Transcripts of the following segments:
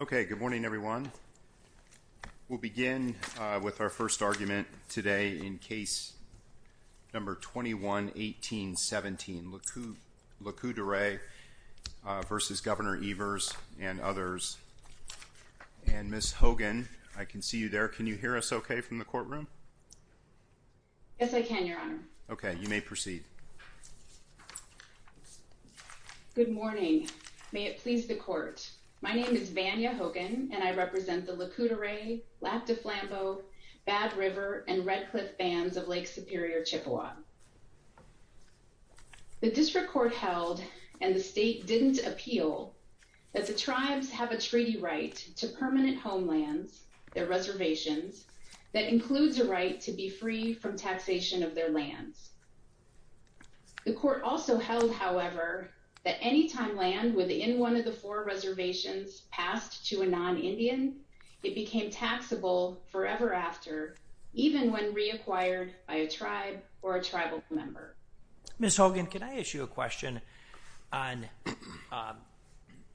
Okay. Good morning, everyone. We'll begin with our first argument today in case number 21-18-17, LeCoultre versus Governor Evers and others. And Ms. Hogan, I can see you there. Can you hear us okay from the courtroom? Yes, I can, Your Honor. Okay, you may proceed. Good morning. May it please the court. My name is Vanya Hogan, and I represent the LeCoultre Ray, Lac du Flambeau, Bad River, and Red Cliff Bands of Lake Superior Chippewa. The district court held, and the state didn't appeal, that the tribes have a treaty right to permanent The court also held, however, that any time land within one of the four reservations passed to a non-Indian, it became taxable forever after, even when reacquired by a tribe or a tribal member. Ms. Hogan, can I ask you a question on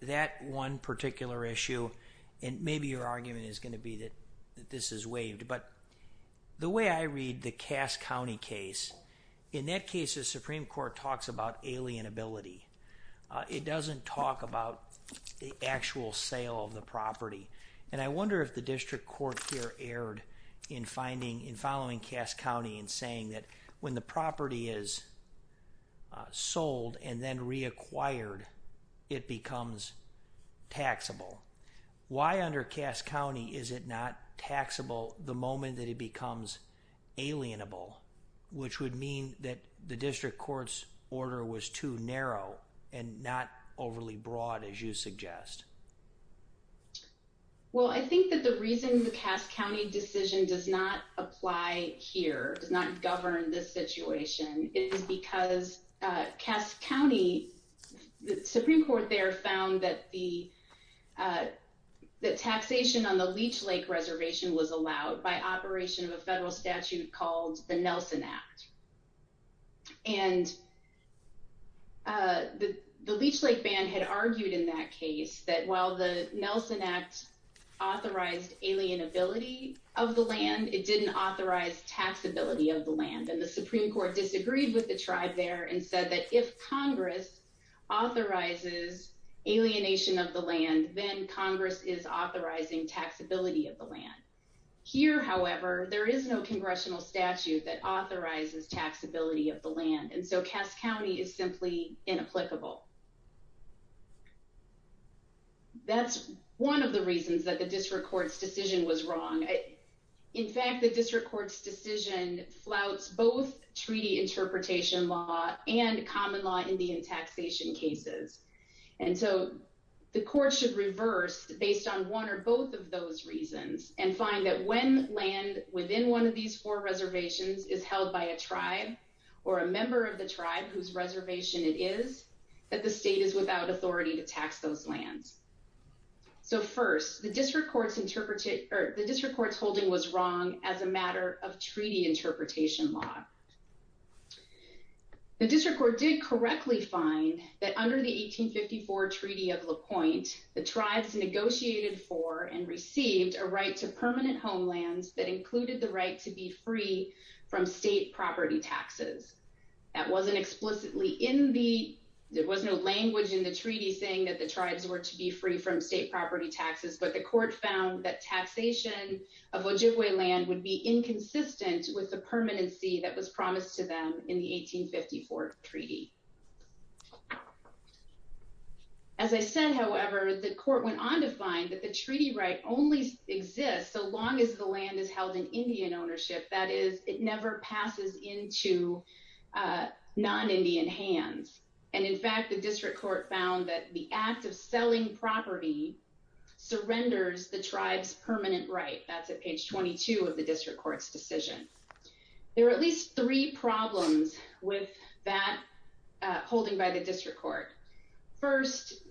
that one particular issue? And maybe your argument is going to be that this is waived. But the way I read the Cass County case, in that case, the Supreme Court talks about alienability. It doesn't talk about the actual sale of the property. And I wonder if the district court here erred in following Cass County and saying that when the property is sold and then reacquired, it becomes taxable. Why under Cass County is it not taxable the moment that it becomes alienable, which would mean that the district court's order was too narrow and not overly broad, as you suggest? Well, I think that the reason the Cass County decision does not apply here, does not govern this situation, is because Cass County, the Supreme Court there found that the taxation on the Leech Lake reservation was allowed by operation of a federal statute called the Nelson Act. And the Leech Lake ban had argued in that case that while the Nelson Act authorized alienability of the land, it didn't authorize taxability of the land. And the Supreme Court disagreed with the tribe there and said that if Congress authorizes alienation of the land, then Congress is authorizing taxability of the land. Here, however, there is no congressional statute that authorizes taxability of the land. That's one of the reasons that the district court's decision was wrong. In fact, the district court's decision flouts both treaty interpretation law and common law Indian taxation cases. And so the court should reverse based on one or both of those reasons and find that when land within one of these four reservations is held by a tribe or a member of the tribe whose reservation it is, that the state is without authority to tax those lands. So first, the district court's holding was wrong as a matter of treaty interpretation law. The district court did correctly find that under the 1854 Treaty of La Pointe, the tribes negotiated for and received a right to permanent homelands that included the right to be free from state property taxes. That wasn't explicitly in the, there was no language in the treaty saying that the tribes were to be free from state property taxes, but the court found that taxation of Ojibwe land would be inconsistent with the permanency that was promised to them in the 1854 treaty. As I said, however, the court went on to find that the treaty right only exists so long as the land is held in Indian ownership, that is, it never passes into non-Indian hands. And in fact, the district court found that the act of selling property surrenders the tribe's permanent right. That's at page 22 of the district court's decision. There are at least three problems with that holding by the district court. First,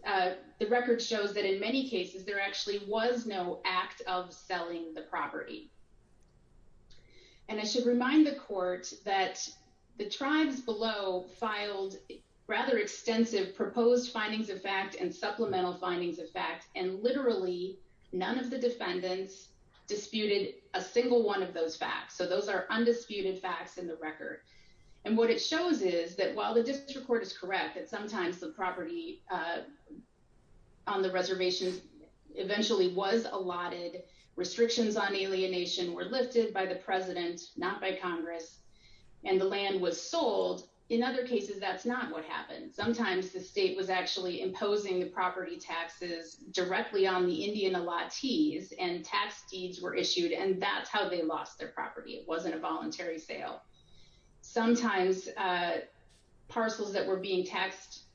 the record shows that in many cases there actually was no act of selling the property. And I should remind the court that the tribes below filed rather extensive proposed findings of fact and supplemental findings of fact, and literally none of the defendants disputed a single one of those facts. So those are undisputed facts in the record. And what it shows is that while the district court is correct that sometimes the property on the reservation eventually was allotted, restrictions on alienation were lifted by the president, not by Congress, and the land was sold, in other cases that's not what happened. Sometimes the state was actually imposing the property taxes directly on the Indian allottees and tax deeds were issued and that's how they lost their property. It wasn't a voluntary sale. Sometimes parcels that were being taxed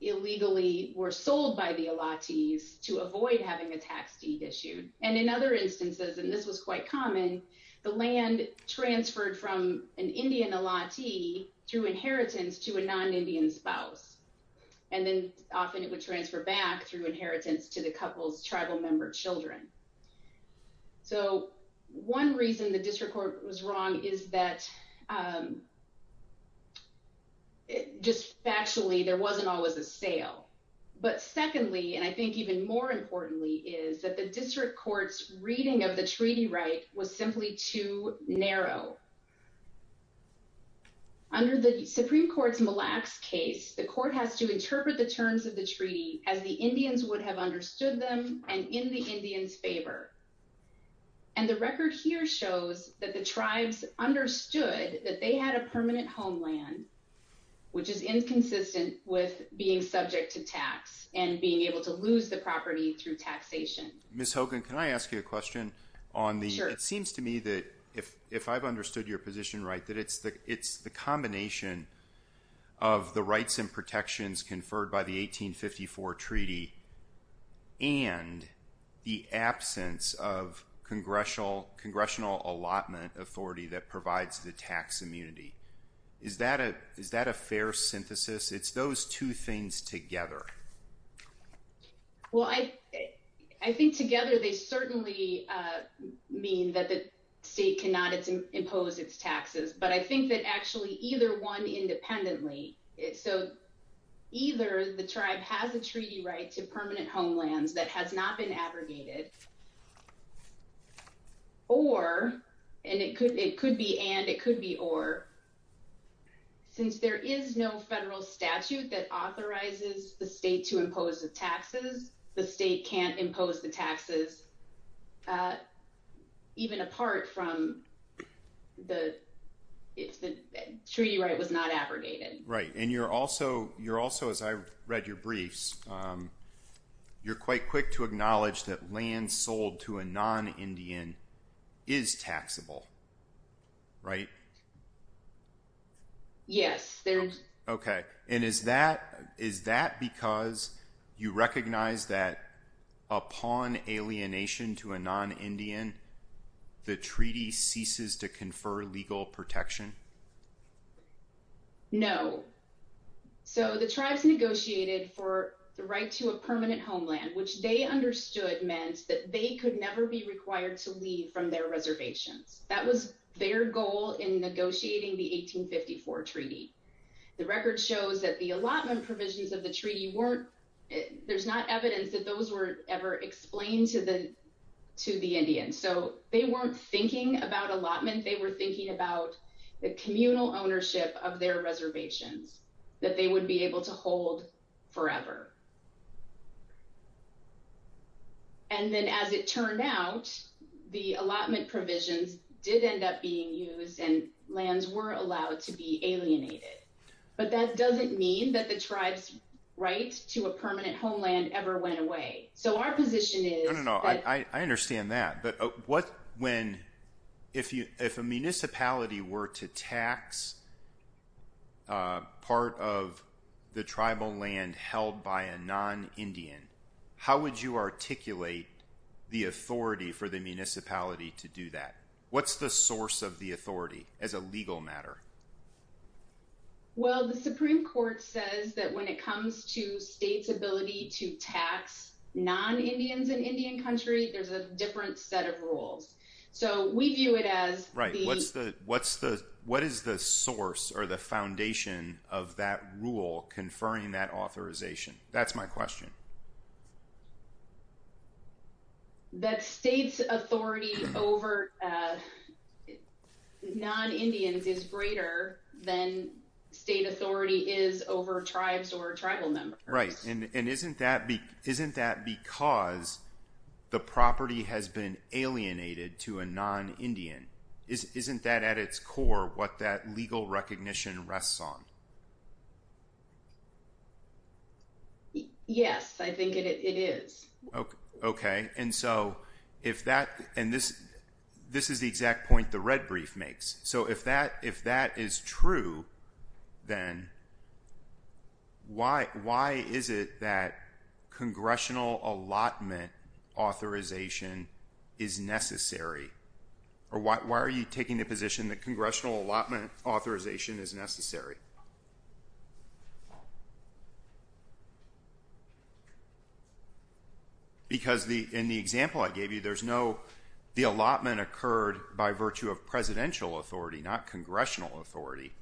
illegally were sold by the allottees to avoid having a tax deed issued. And in other instances, and this was quite common, the land transferred from an Indian allottee through inheritance to a non-Indian spouse. And then often it would transfer back through inheritance to the couple's tribal member children. So one reason the district court was wrong is that just factually there wasn't always a sale. But secondly, and I think even more importantly, is that the district court's reading of the treaty right was simply too narrow. Under the Supreme Court's Mille Lacs case, the court has to interpret the terms of the treaty as the Indians would have understood them and in the favor. And the record here shows that the tribes understood that they had a permanent homeland, which is inconsistent with being subject to tax and being able to lose the property through taxation. Ms. Hogan, can I ask you a question on the, it seems to me that if I've understood your position right, that it's the combination of the rights and protections conferred by the 1854 treaty and the absence of congressional allotment authority that provides the tax immunity. Is that a fair synthesis? It's those two things together. Well, I think together they certainly mean that the state cannot impose its taxes. But I think that actually either one independently, so either the tribe has a treaty right to permanent homelands that has not been abrogated, or, and it could be and, it could be or, since there is no federal statute that authorizes the state to impose the taxes, the state can't impose the taxes even apart from the, if the treaty right was not abrogated. Right. And you're also, you're also, as I read your briefs, you're quite quick to acknowledge that land sold to a non-Indian is taxable, right? Yes. Okay. And is that, is that because you recognize that upon alienation to a non-Indian, the treaty ceases to confer legal protection? No. So the tribes negotiated for the right to a permanent homeland, which they understood meant that they could never be required to leave from their reservations. That was their goal in negotiating the 1854 treaty. The record shows that the allotment provisions of the treaty weren't, there's not evidence that those were ever explained to the, to the Indians. So they weren't thinking about allotment, they were thinking about the communal ownership of their reservations that they would be able to hold forever. And then as it turned out, the allotment provisions did end up being used and lands were allowed to be alienated. But that doesn't mean that the tribe's right to a permanent homeland ever went away. So our position is... No, no, no. I understand that. But what, when, if you, if a municipality were to tax a part of the tribal land held by a non-Indian, how would you articulate the authority for the municipality to do that? What's the source of the authority as a legal matter? Well, the Supreme Court says that when it comes to state's ability to tax non-Indians in Indian country, there's a different set of rules. So we view it as... Right. What's the, what's the, what is the source or the foundation of that rule conferring that authorization? That's my question. That state's authority over non-Indians is greater than state authority is over tribes or tribal members. Right. And isn't that, isn't that because the property has been alienated to a non-Indian? Isn't that at its core what that legal recognition rests on? Yes, I think it is. Okay. And so if that, and this, this is the exact point the red brief makes. So if that, if that is true, then why, why is it that congressional allotment authorization is necessary? Or why, why are you taking the position that congressional allotment authorization is necessary? Because the, in the example I gave you, there's no, the allotment occurred by virtue of presidential authority, not congressional authority.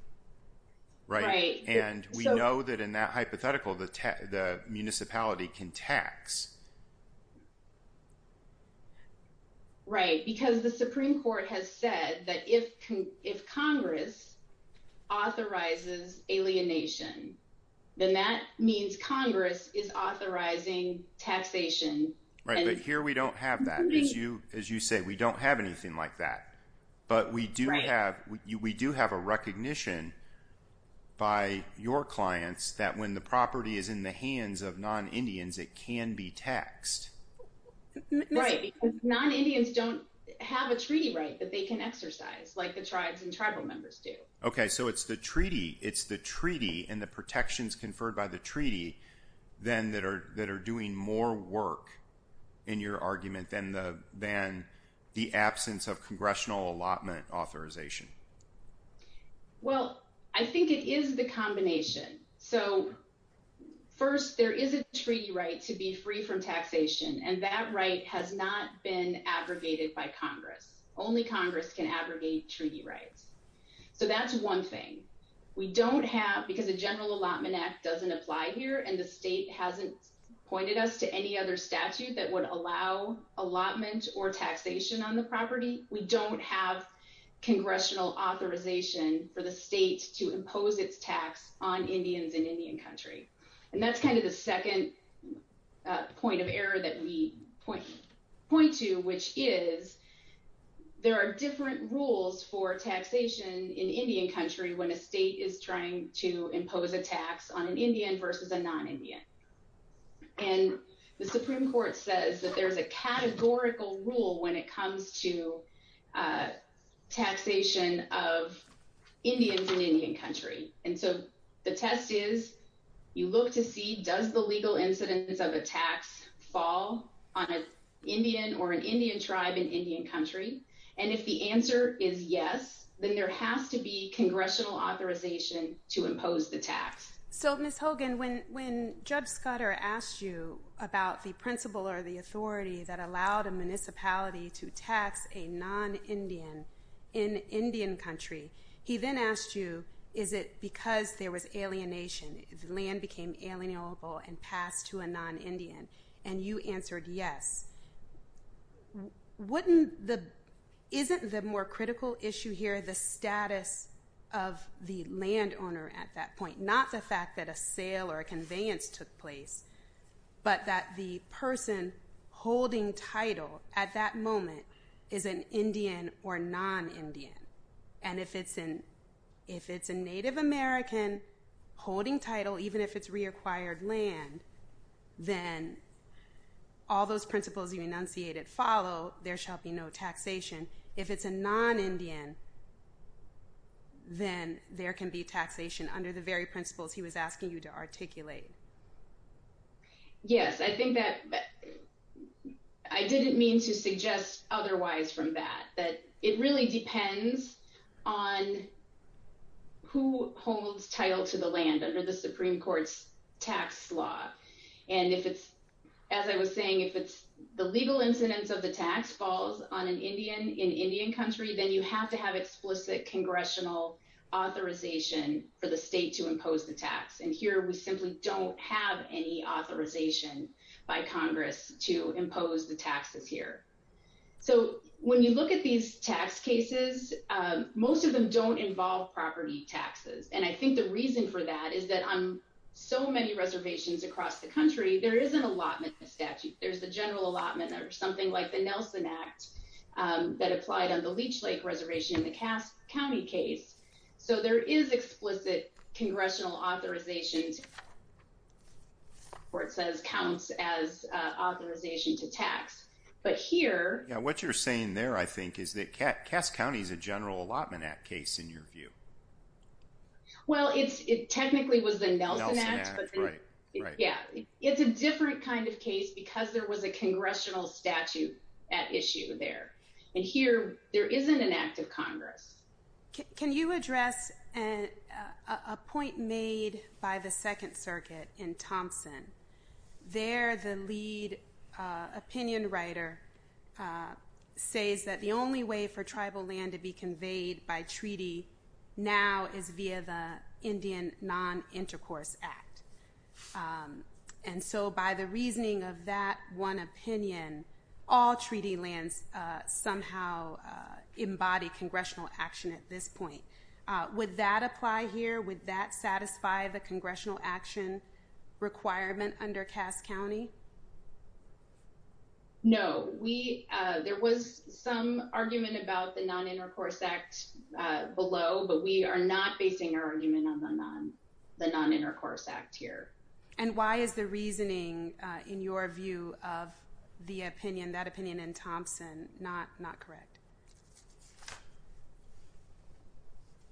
Right. And we know that in that hypothetical, the municipality can tax Right. Because the Supreme court has said that if, if Congress authorizes alienation, then that means Congress is authorizing taxation. Right. But here we don't have that. As you, as you say, we don't have anything like that, but we do have, we do have a recognition by your clients that when the property is in the hands of non-Indians don't have a treaty right that they can exercise like the tribes and tribal members do. Okay. So it's the treaty, it's the treaty and the protections conferred by the treaty then that are, that are doing more work in your argument than the, than the absence of congressional allotment authorization. Well, I think it is the combination. So first there is a treaty right to be free from taxation and that right has not been aggregated by Congress. Only Congress can aggregate treaty rights. So that's one thing we don't have because the general allotment act doesn't apply here. And the state hasn't pointed us to any other statute that would allow allotment or taxation on the property. We don't have congressional authorization for the state to impose its tax on Indians in Indian country. And the Supreme court says that there's a categorical rule when it comes to taxation of Indians in Indian country. And so the test is you look to see, does the legal incidence of a tax fall? Does the legal incidence of an Indian tax fall? And does the legal incidence on an Indian or an Indian tribe in Indian country? And if the answer is yes, then there has to be congressional authorization to impose the tax. So Ms. Hogan, when, when Judge Scudder asked you about the principle or the authority that allowed a municipality to tax a non-Indian in Indian country, he then asked you, is it because there is a non-Indian? And you answered yes. Wouldn't the, isn't the more critical issue here the status of the land owner at that point? Not the fact that a sale or a conveyance took place, but that the person holding title at that moment is an Indian or non-Indian. And if it's an, if it's a Native American holding title, even if it's reacquired land, then all those principles you enunciated follow, there shall be no taxation. If it's a non-Indian, then there can be taxation under the very principles he was asking you to articulate. Yes. I think that I didn't mean to suggest otherwise from that, that it really depends on who holds title to the land under the Supreme Court's tax law. And if it's, as I was saying, if it's the legal incidence of the tax falls on an Indian in Indian country, then you have to have explicit congressional authorization for the state to impose the tax. And here, we simply don't have any authorization by Congress to impose the taxes here. So when you look at these tax cases, most of them don't involve property taxes. And I think the reason for that is that on so many reservations across the country, there is an allotment statute. There's the general allotment or something like the Nelson Act that applied on the Leech Lake reservation in the Cass County case. So there is explicit congressional authorizations where it says counts as authorization to tax. But here- Yeah. What you're saying there, I think, is that Cass County is a general allotment act case in your view. Well, it technically was the Nelson Act. Yeah. It's a different kind of case because there was a congressional statute at issue there. And here there isn't an act of Congress. Can you address a point made by the Second Circuit in Thompson? There, the lead opinion writer says that the only way for tribal land to be conveyed by treaty now is via the Indian Non- Intercourse Act. And so by the reasoning of that one opinion, all treaty lands somehow embody congressional action at this point. Would that apply here? Would that satisfy the congressional action requirement under Cass County? No. There was some argument about the Non-Intercourse Act below, but we are not basing our argument on the Non-Intercourse Act here. And why is the reasoning in your view of the opinion, that opinion in Thompson, not correct?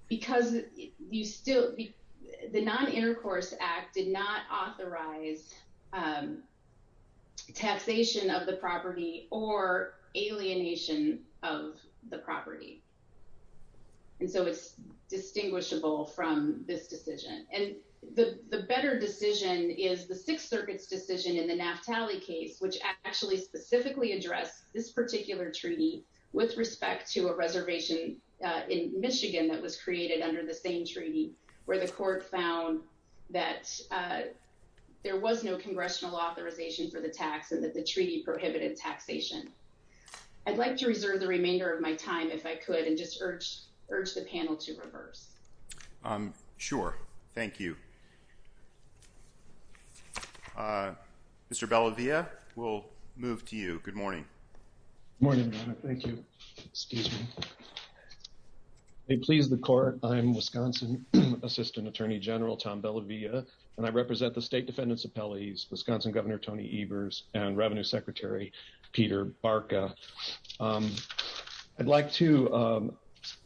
Because the Non-Intercourse Act did not authorize taxation of the property or alienation of the property. And so it's distinguishable from this decision. And the better decision is the Sixth Circuit's decision in the Naftali case, which actually specifically addressed this particular treaty with respect to a reservation in Michigan that was created under the same treaty where the court found that there was no congressional authorization for the tax and that the treaty prohibited taxation. I'd like to reserve the remainder of my time if I could, and just urge the panel to reverse. Sure. Thank you. Mr. Bellavia, we'll move to you. Good morning. Morning. Thank you. Excuse me. May it please the court, I'm Wisconsin Assistant Attorney General Tom Bellavia, and I represent the State Defendant's Appellees, Wisconsin Governor Tony Ebers and Revenue Secretary Peter Barca. I'd like to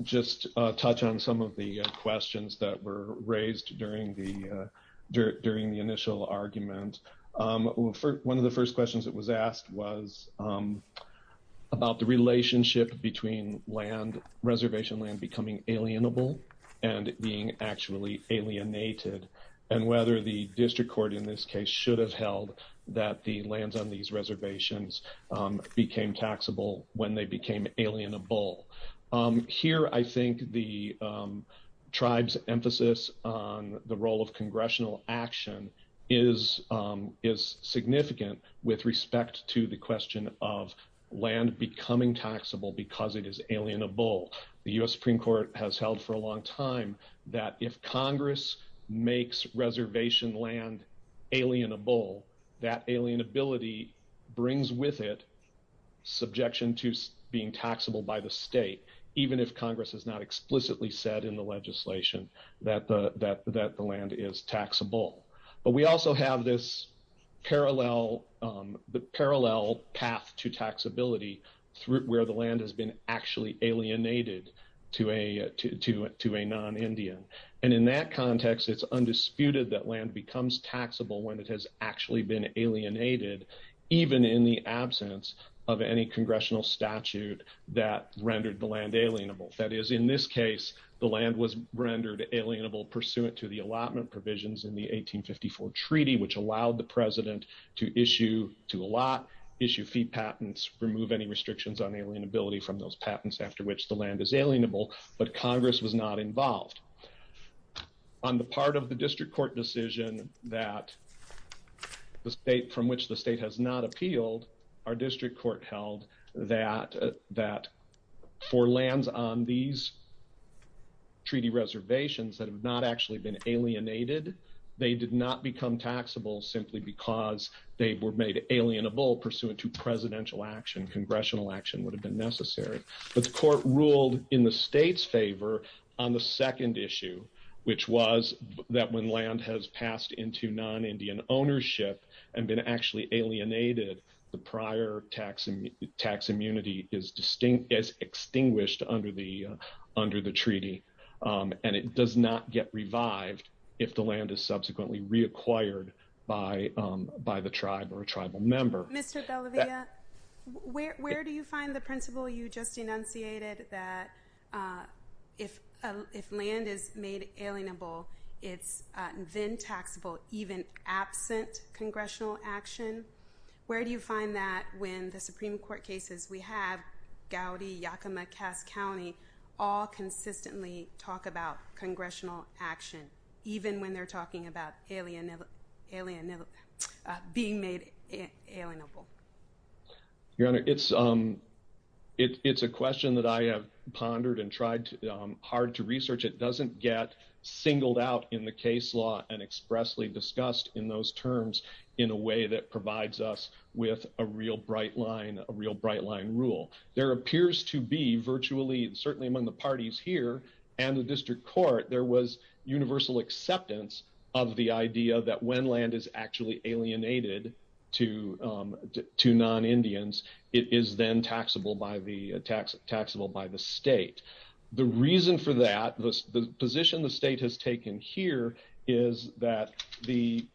just touch on some of the questions that were raised during the initial argument. One of the first questions that was asked was about the relationship between reservation land becoming alienable and being actually alienated, and whether the district court in this case should have held that the lands on these reservations became taxable when they became alienable. Here, I think the tribe's emphasis on the role of congressional action is significant with respect to the question of land becoming taxable because it is alienable. The U.S. Supreme Court has held for a long time that if Congress makes reservation land alienable, that alienability brings with it subjection to being taxable by the state, even if Congress has not explicitly said in the legislation that the land is taxable. But we also have this parallel path to taxability where the land has been actually alienated to a non-Indian. In that context, it's undisputed that land becomes taxable when it has actually been alienated, even in the absence of any congressional statute that rendered the land alienable. That is, in this case, the land was rendered alienable pursuant to the allotment provisions in the 1854 treaty, which allowed the president to allot, issue fee patents, remove any restrictions on alienability from those patents after which the land is alienable, but Congress was not involved. On the part of the district court decision that from which the state has not appealed, our district court held that for lands on these treaty reservations that have not actually been alienated, they did not become taxable simply because they were made alienable pursuant to presidential action. Congressional action would have been necessary. But the court ruled in the state's favor on the second issue, which was that when land has passed into non-Indian ownership and been actually alienated, the prior tax immunity is extinguished under the treaty. And it does not get revived if the tribe or a tribal member... Mr. Bellavia, where do you find the principle you just enunciated that if land is made alienable, it's then taxable even absent congressional action? Where do you find that when the Supreme Court cases we have, Gowdy, Yakima, Cass County, all consistently talk about being made alienable? Your Honor, it's a question that I have pondered and tried hard to research. It doesn't get singled out in the case law and expressly discussed in those terms in a way that provides us with a real bright line, a real bright line rule. There appears to be virtually, certainly among the parties here and the district court, there was universal acceptance of the idea that when land is actually alienated to non-Indians, it is then taxable by the state. The reason for that, the position the state has taken here is that the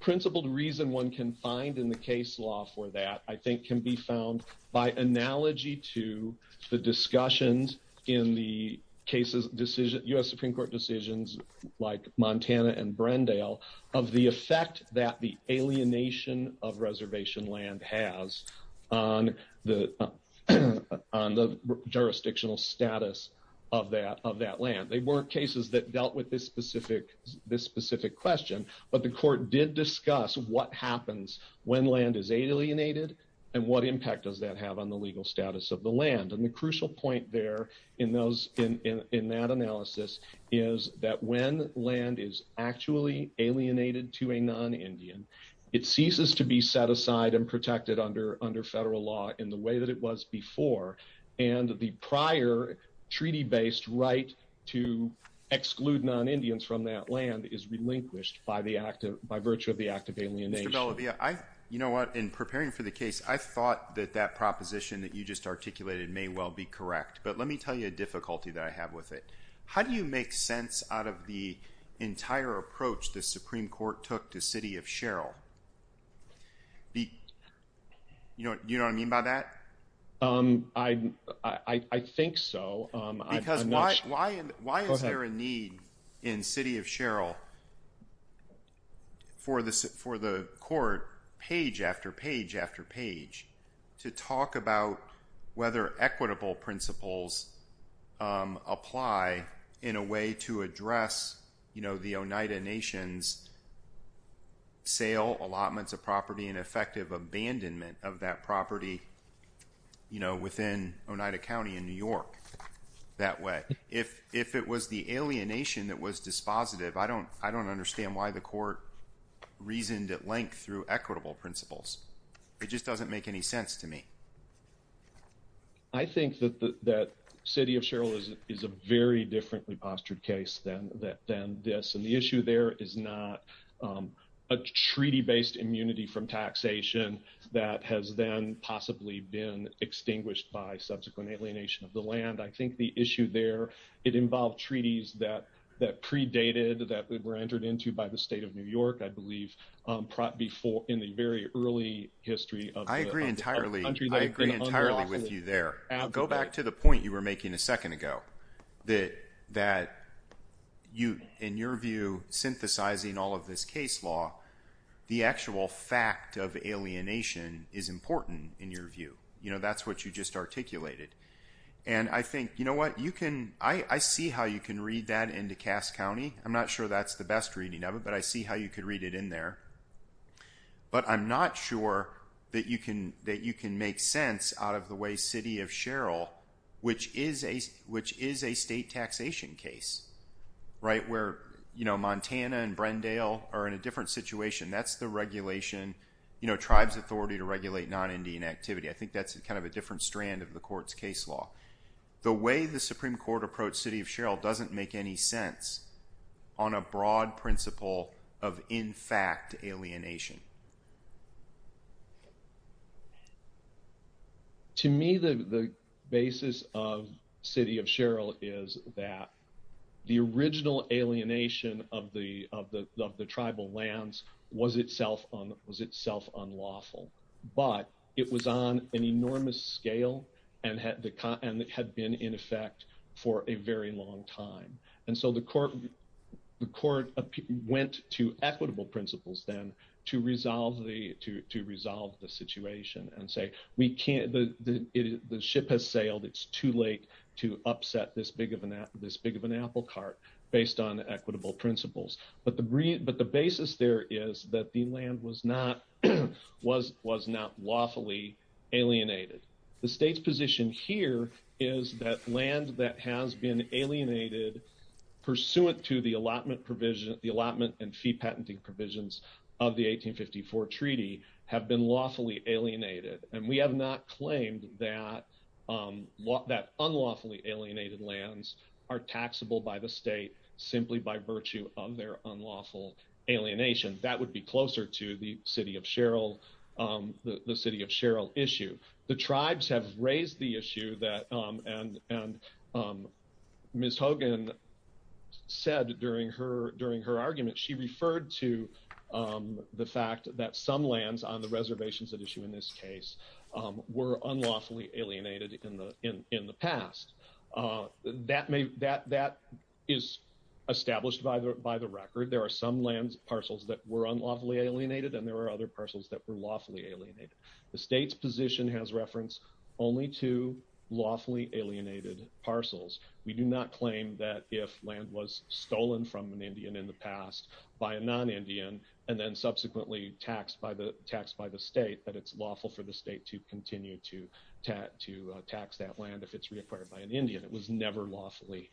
principled reason one can find in the case law for that, I think can be found by analogy to the discussions in the U.S. Supreme Court decisions like Montana and Brendale of the effect that the alienation of reservation land has on the jurisdictional status of that land. They weren't cases that dealt with this specific question, but the court did discuss what happens when land is alienated and what impact does that have on the legal status of the land. The crucial point there in that analysis is that when land is actually alienated to a non-Indian, it ceases to be set aside and protected under federal law in the way that it was before. The prior treaty-based right to exclude non-Indians from that land is relinquished by virtue of the act of alienation. Mr. Bellavia, you know what? In preparing for the articulation, it may well be correct, but let me tell you a difficulty that I have with it. How do you make sense out of the entire approach the Supreme Court took to City of Sherrill? You know what I mean by that? I think so. Because why is there a need in City of Sherrill for the court, page after page after page, to talk about whether equitable principles apply in a way to address the Oneida Nation's sale, allotments of property, and effective abandonment of that property within Oneida County in New York that way? If it was the alienation that was positive, I don't understand why the court reasoned at length through equitable principles. It just doesn't make any sense to me. I think that City of Sherrill is a very differently postured case than this, and the issue there is not a treaty-based immunity from taxation that has then possibly been extinguished by subsequent alienation of the land. I think the issue there, it involved treaties that predated, that were entered into by the state of New York, I believe, in the very early history of the country. I agree entirely with you there. Go back to the point you were making a second ago, that in your view, synthesizing all of this case law, the actual fact of alienation is important in your view. You know, that's what you just articulated. And I think, you know what, I see how you can read that into Cass County. I'm not sure that's the best reading of it, but I see how you could read it in there. But I'm not sure that you can make sense out of the way City of Sherrill, which is a state taxation case, right, where Montana and Brendale are in a different situation. That's the regulation, you know, tribes' authority to regulate non-Indian activity. I think that's kind of a different strand of the court's case law. The way the Supreme Court approached City of Sherrill doesn't make any sense on a broad principle of, in fact, alienation. To me, the basis of City of Sherrill is that the original alienation of the tribal lands was itself unlawful, but it was on an enormous scale and had been in effect for a very long time. And so the court went to equitable principles then to resolve the situation and say, we can't, the ship has sailed, it's too late to upset this big of an apple cart based on that the land was not lawfully alienated. The state's position here is that land that has been alienated pursuant to the allotment provision, the allotment and fee patenting provisions of the 1854 treaty have been lawfully alienated. And we have not claimed that unlawfully alienated lands are taxable by the state simply by virtue of their unlawful alienation. That would be closer to the City of Sherrill issue. The tribes have raised the issue that, and Ms. Hogan said during her argument, she referred to the fact that some lands on the reservations at issue in this case were unlawfully alienated in the past. That is established by the record. There are some land parcels that were unlawfully alienated, and there were other parcels that were lawfully alienated. The state's position has reference only to lawfully alienated parcels. We do not claim that if land was stolen from an Indian in the past by a non-Indian and then subsequently taxed by the state, that it's lawful for the Indian. It was never lawfully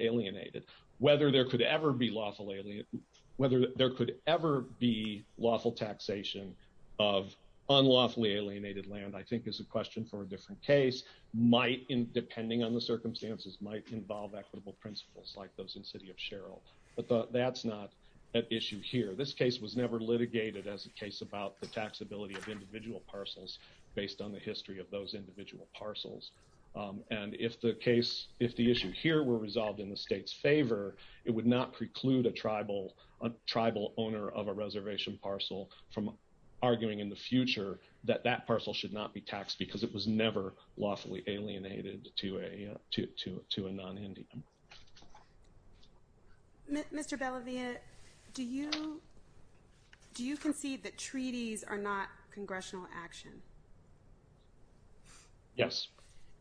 alienated. Whether there could ever be lawful taxation of unlawfully alienated land, I think is a question for a different case, depending on the circumstances, might involve equitable principles like those in City of Sherrill. But that's not at issue here. This case was never litigated as a case about the if the issue here were resolved in the state's favor, it would not preclude a tribal owner of a reservation parcel from arguing in the future that that parcel should not be taxed because it was never lawfully alienated to a non-Indian. Mr. Bellavia, do you concede that treaties are not congressional action? Yes.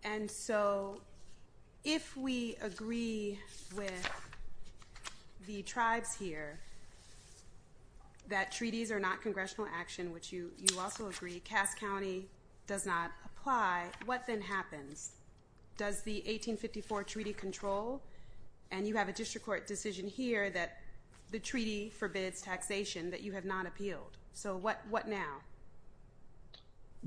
And so if we agree with the tribes here that treaties are not congressional action, which you also agree, Cass County does not apply, what then happens? Does the 1854 treaty control and you have a district court decision here that the treaty forbids taxation that you have not appealed? So what now?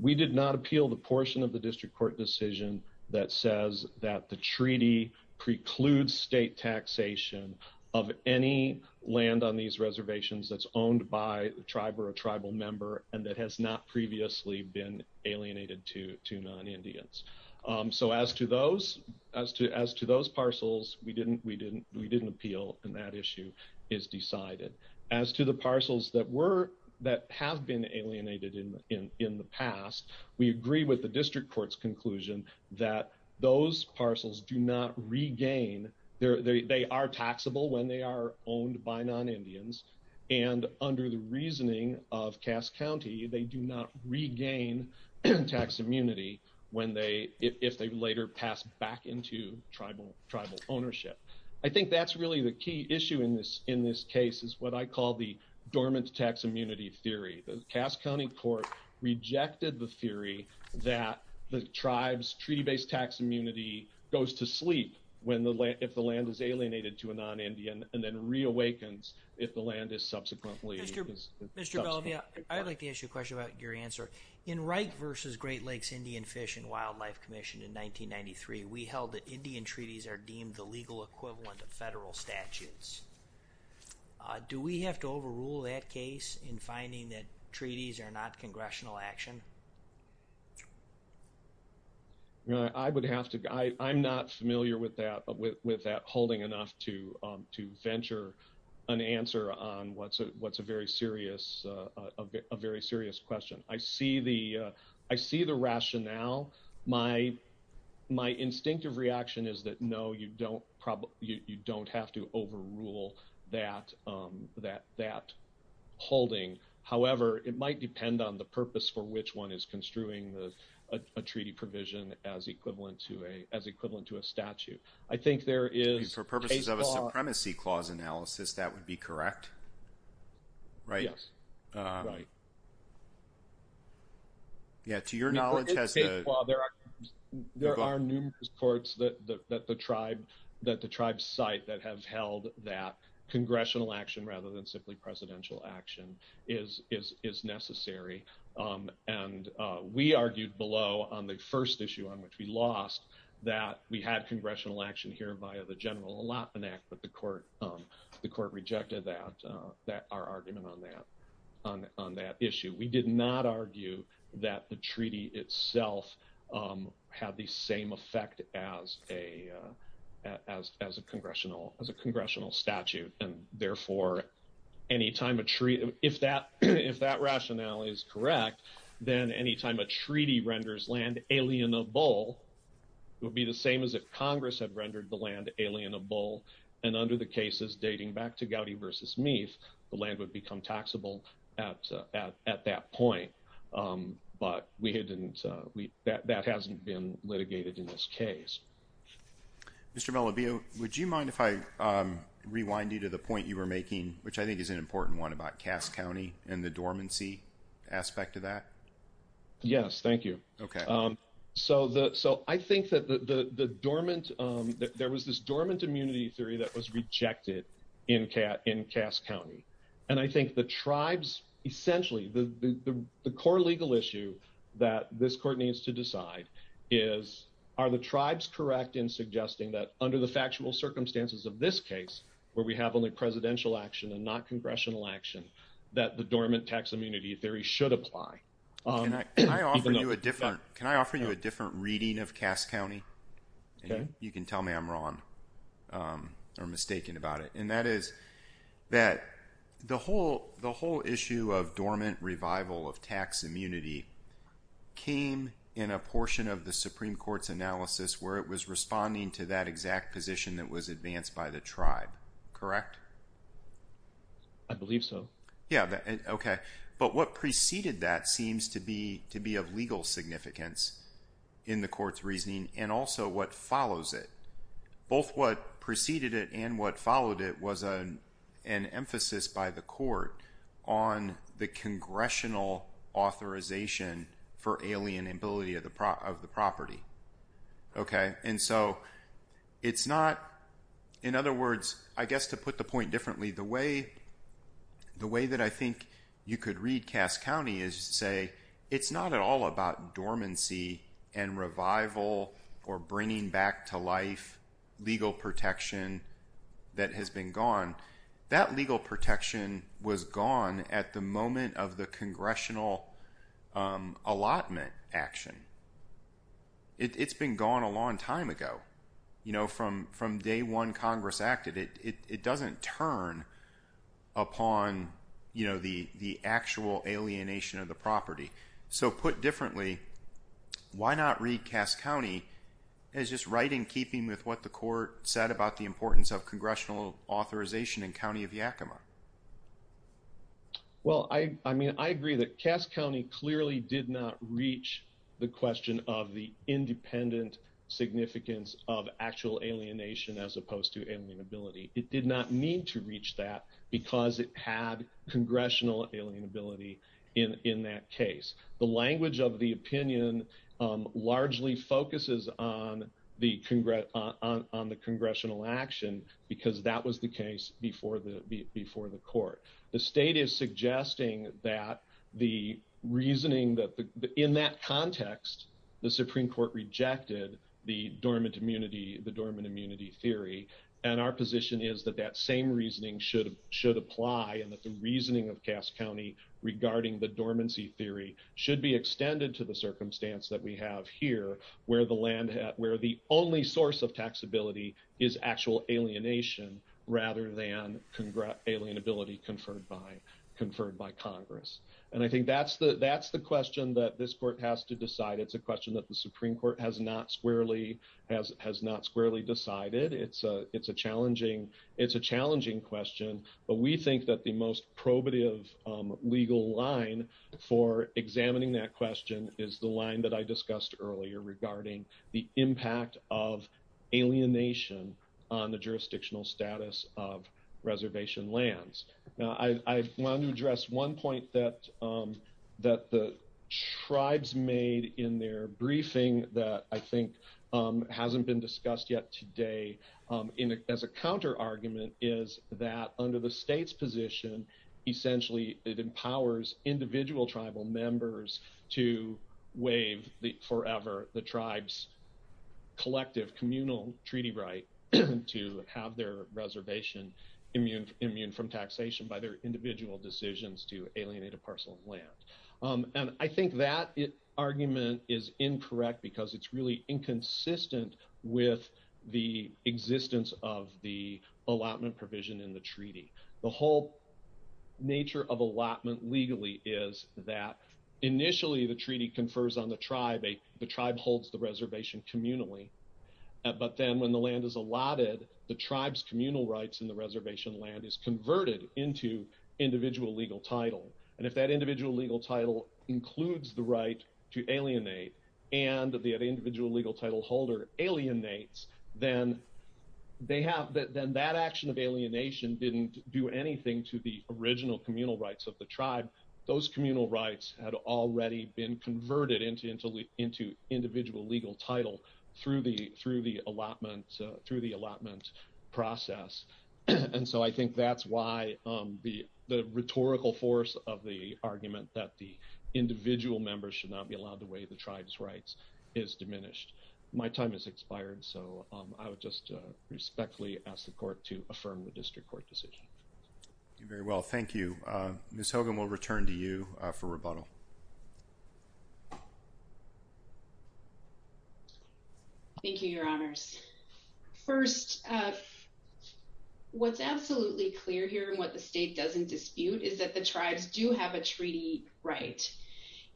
We did not appeal the portion of the district court decision that says that the treaty precludes state taxation of any land on these reservations that's owned by a tribe or a tribal member and that has not previously been alienated to non-Indians. So as to those parcels, we didn't appeal and that issue is decided. As to the parcels that have been alienated in the past, we agree with the district court's conclusion that those parcels do not regain, they are taxable when they are owned by non-Indians and under the reasoning of Cass County, they do not regain tax immunity if they later pass back to tribal ownership. I think that's really the key issue in this case is what I call the dormant tax immunity theory. The Cass County court rejected the theory that the tribe's treaty-based tax immunity goes to sleep if the land is alienated to a non-Indian and then reawakens if the land is subsequently taxable. Mr. Bellamy, I'd like to ask you a question about your answer. In Wrike v. Great Lakes Indian Fish and Wildlife Commission in 1993, we held that Indian treaties are deemed the legal equivalent of federal statutes. Do we have to overrule that case in finding that treaties are not congressional action? I would have to, I'm not familiar with that holding enough to venture an answer on what's very serious, a very serious question. I see the rationale. My instinctive reaction is that no, you don't have to overrule that holding. However, it might depend on the purpose for which one is construing a treaty provision as equivalent to a statute. I think there is... For purposes of a supremacy clause analysis, that would be correct? Right. Yeah. To your knowledge, has the... There are numerous courts that the tribe cite that have held that congressional action rather than simply presidential action is necessary. We argued below on the first issue on which we lost that we had congressional action here via the General Allotment Act, but the court rejected our argument on that issue. We did not argue that the treaty itself had the same effect as a congressional statute. And therefore, any time a treaty... If that rationale is correct, then any time a treaty renders land alienable, it would be the same as if Congress had rendered the land alienable. And under the cases dating back to Gowdy versus Meath, the land would become taxable at that point. But we hadn't... That hasn't been litigated in this case. Mr. Malabio, would you mind if I rewind you to the point you were making, which I think is an important one about Cass County and the dormancy aspect of that? Yes, thank you. Okay. So I think that the dormant... There was this dormant immunity theory that was rejected in Cass County. And I think the tribes essentially... The core legal issue that this court needs to decide is, are the tribes correct in suggesting that under the factual circumstances of this case, where we have only presidential action and not congressional action, that the dormant tax immunity theory should apply? Can I offer you a different reading of Cass County? You can tell me I'm wrong or mistaken about it. And that is that the whole issue of dormant revival of tax immunity came in a portion of the Supreme Court's analysis where it was responding to that exact position that was advanced by the tribe. Correct? I believe so. Yeah. Okay. But what preceded that seems to be of legal significance in the court's reasoning and also what follows it. Both what preceded it and what followed it was an emphasis by the court on the congressional authorization for alienability of the property. Okay. And so it's not... In other words, I guess to put the point differently, the way that I think you could read Cass County is to say, it's not at all about dormancy and revival or bringing back to life legal protection that has been gone. That legal protection was gone at the moment of the congressional allotment action. It's been gone a long time ago. From day one Congress acted, it doesn't turn upon the actual alienation of the property. So put differently, why not read Cass County as just right in keeping with what the court said about the importance of congressional authorization in County of Yakima? Well, I agree that Cass County clearly did not reach the question of the independent significance of actual alienation as opposed to alienability. It did not mean to reach that because it had congressional alienability in that case. The focuses on the congressional action because that was the case before the court. The state is suggesting that the reasoning that in that context, the Supreme court rejected the dormant immunity, the dormant immunity theory. And our position is that that same reasoning should apply and that the reasoning of Cass County regarding the dormancy theory should be extended to the where the only source of taxability is actual alienation rather than alienability conferred by Congress. And I think that's the question that this court has to decide. It's a question that the Supreme court has not squarely decided. It's a challenging question, but we think that the most the impact of alienation on the jurisdictional status of reservation lands. Now I want to address one point that the tribes made in their briefing that I think hasn't been discussed yet today as a counter argument is that under the state's position, essentially it empowers individual tribal members to waive the forever, the tribes collective communal treaty right to have their reservation immune from taxation by their individual decisions to alienate a parcel of land. And I think that argument is incorrect because it's really inconsistent with the is that initially the treaty confers on the tribe, the tribe holds the reservation communally, but then when the land is allotted, the tribes communal rights in the reservation land is converted into individual legal title. And if that individual legal title includes the right to alienate and the individual legal title holder alienates, then that action of alienation didn't do anything to the original communal rights of the tribe. Those communal rights had already been converted into, into, into individual legal title through the, through the allotment, through the allotment process. And so I think that's why, um, the, the rhetorical force of the argument that the individual members should not be allowed the way the tribes rights is diminished. My time has expired. So, um, I would just respectfully ask the court to affirm the very well. Thank you. Uh, Ms. Hogan, we'll return to you for rebuttal. Thank you, your honors. First, uh, what's absolutely clear here and what the state doesn't dispute is that the tribes do have a treaty, right?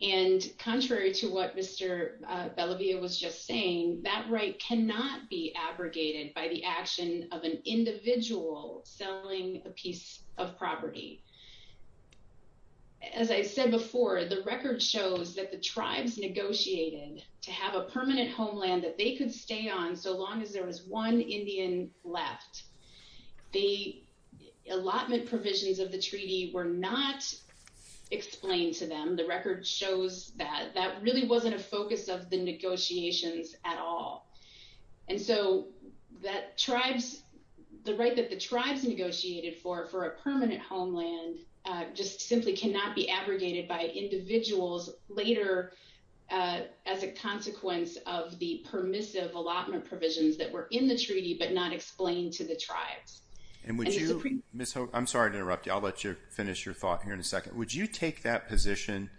And contrary to what Mr. Bellavia was just saying, that right cannot be abrogated by the action of an individual selling a piece of property. As I said before, the record shows that the tribes negotiated to have a permanent homeland that they could stay on. So long as there was one Indian left, the allotment provisions of the treaty were not explained to them. The record shows that that really wasn't a focus of the negotiations at all. And so that tribes, the right that the tribes negotiated for, for a permanent homeland, uh, just simply cannot be abrogated by individuals later, uh, as a consequence of the permissive allotment provisions that were in the treaty, but not explained to the tribes. And would you, Ms. Hogan, I'm sorry to interrupt you. I'll let you finish your thought here in a second. Would you take that position?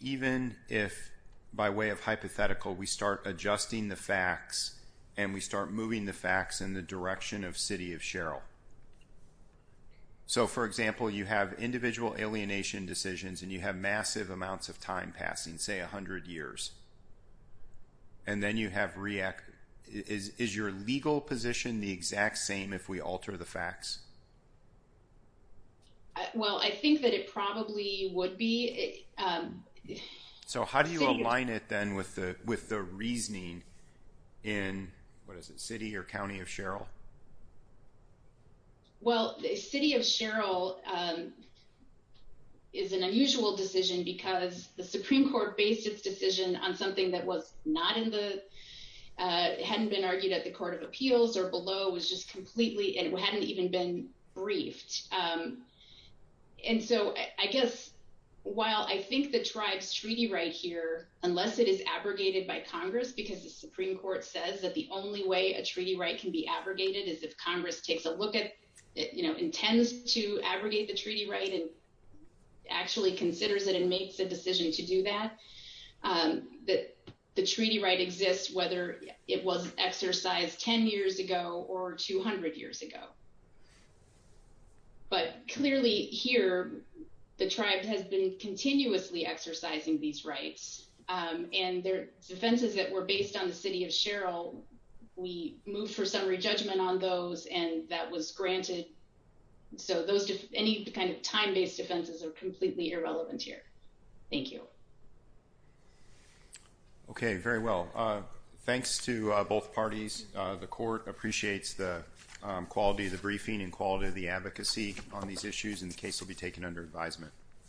Even if by way of hypothetical, we start adjusting the facts and we start moving the facts in the direction of city of Sherrill. So for example, you have individual alienation decisions and you have massive amounts of time passing, say a hundred years, and then you have react. Is your legal position the exact same if we alter the facts? Well, I think that it probably would be. So how do you align it then with the, the reasoning in what is it city or County of Sherrill? Well, the city of Sherrill, um, is an unusual decision because the Supreme court based its decision on something that was not in the, uh, hadn't been argued at the court of appeals or below was just completely, and it hadn't even been briefed. Um, and so I guess while I think the tribes treaty right here, unless it is abrogated by Congress, because the Supreme court says that the only way a treaty right can be abrogated is if Congress takes a look at it, you know, intends to abrogate the treaty, right. And actually considers it and makes a decision to do that, um, that the treaty right exists, whether it was exercised 10 years ago or 200 years ago. But clearly here, the tribe has been continuously exercising these rights. Um, and their defenses that were based on the city of Sherrill, we moved for summary judgment on those and that was granted. So those, any kind of time-based defenses are completely irrelevant here. Thank you. Okay. Very well. Uh, thanks to both parties. Uh, the court appreciates the, um, qualities of the briefing and quality of the advocacy on these issues and the case will be taken under advisement.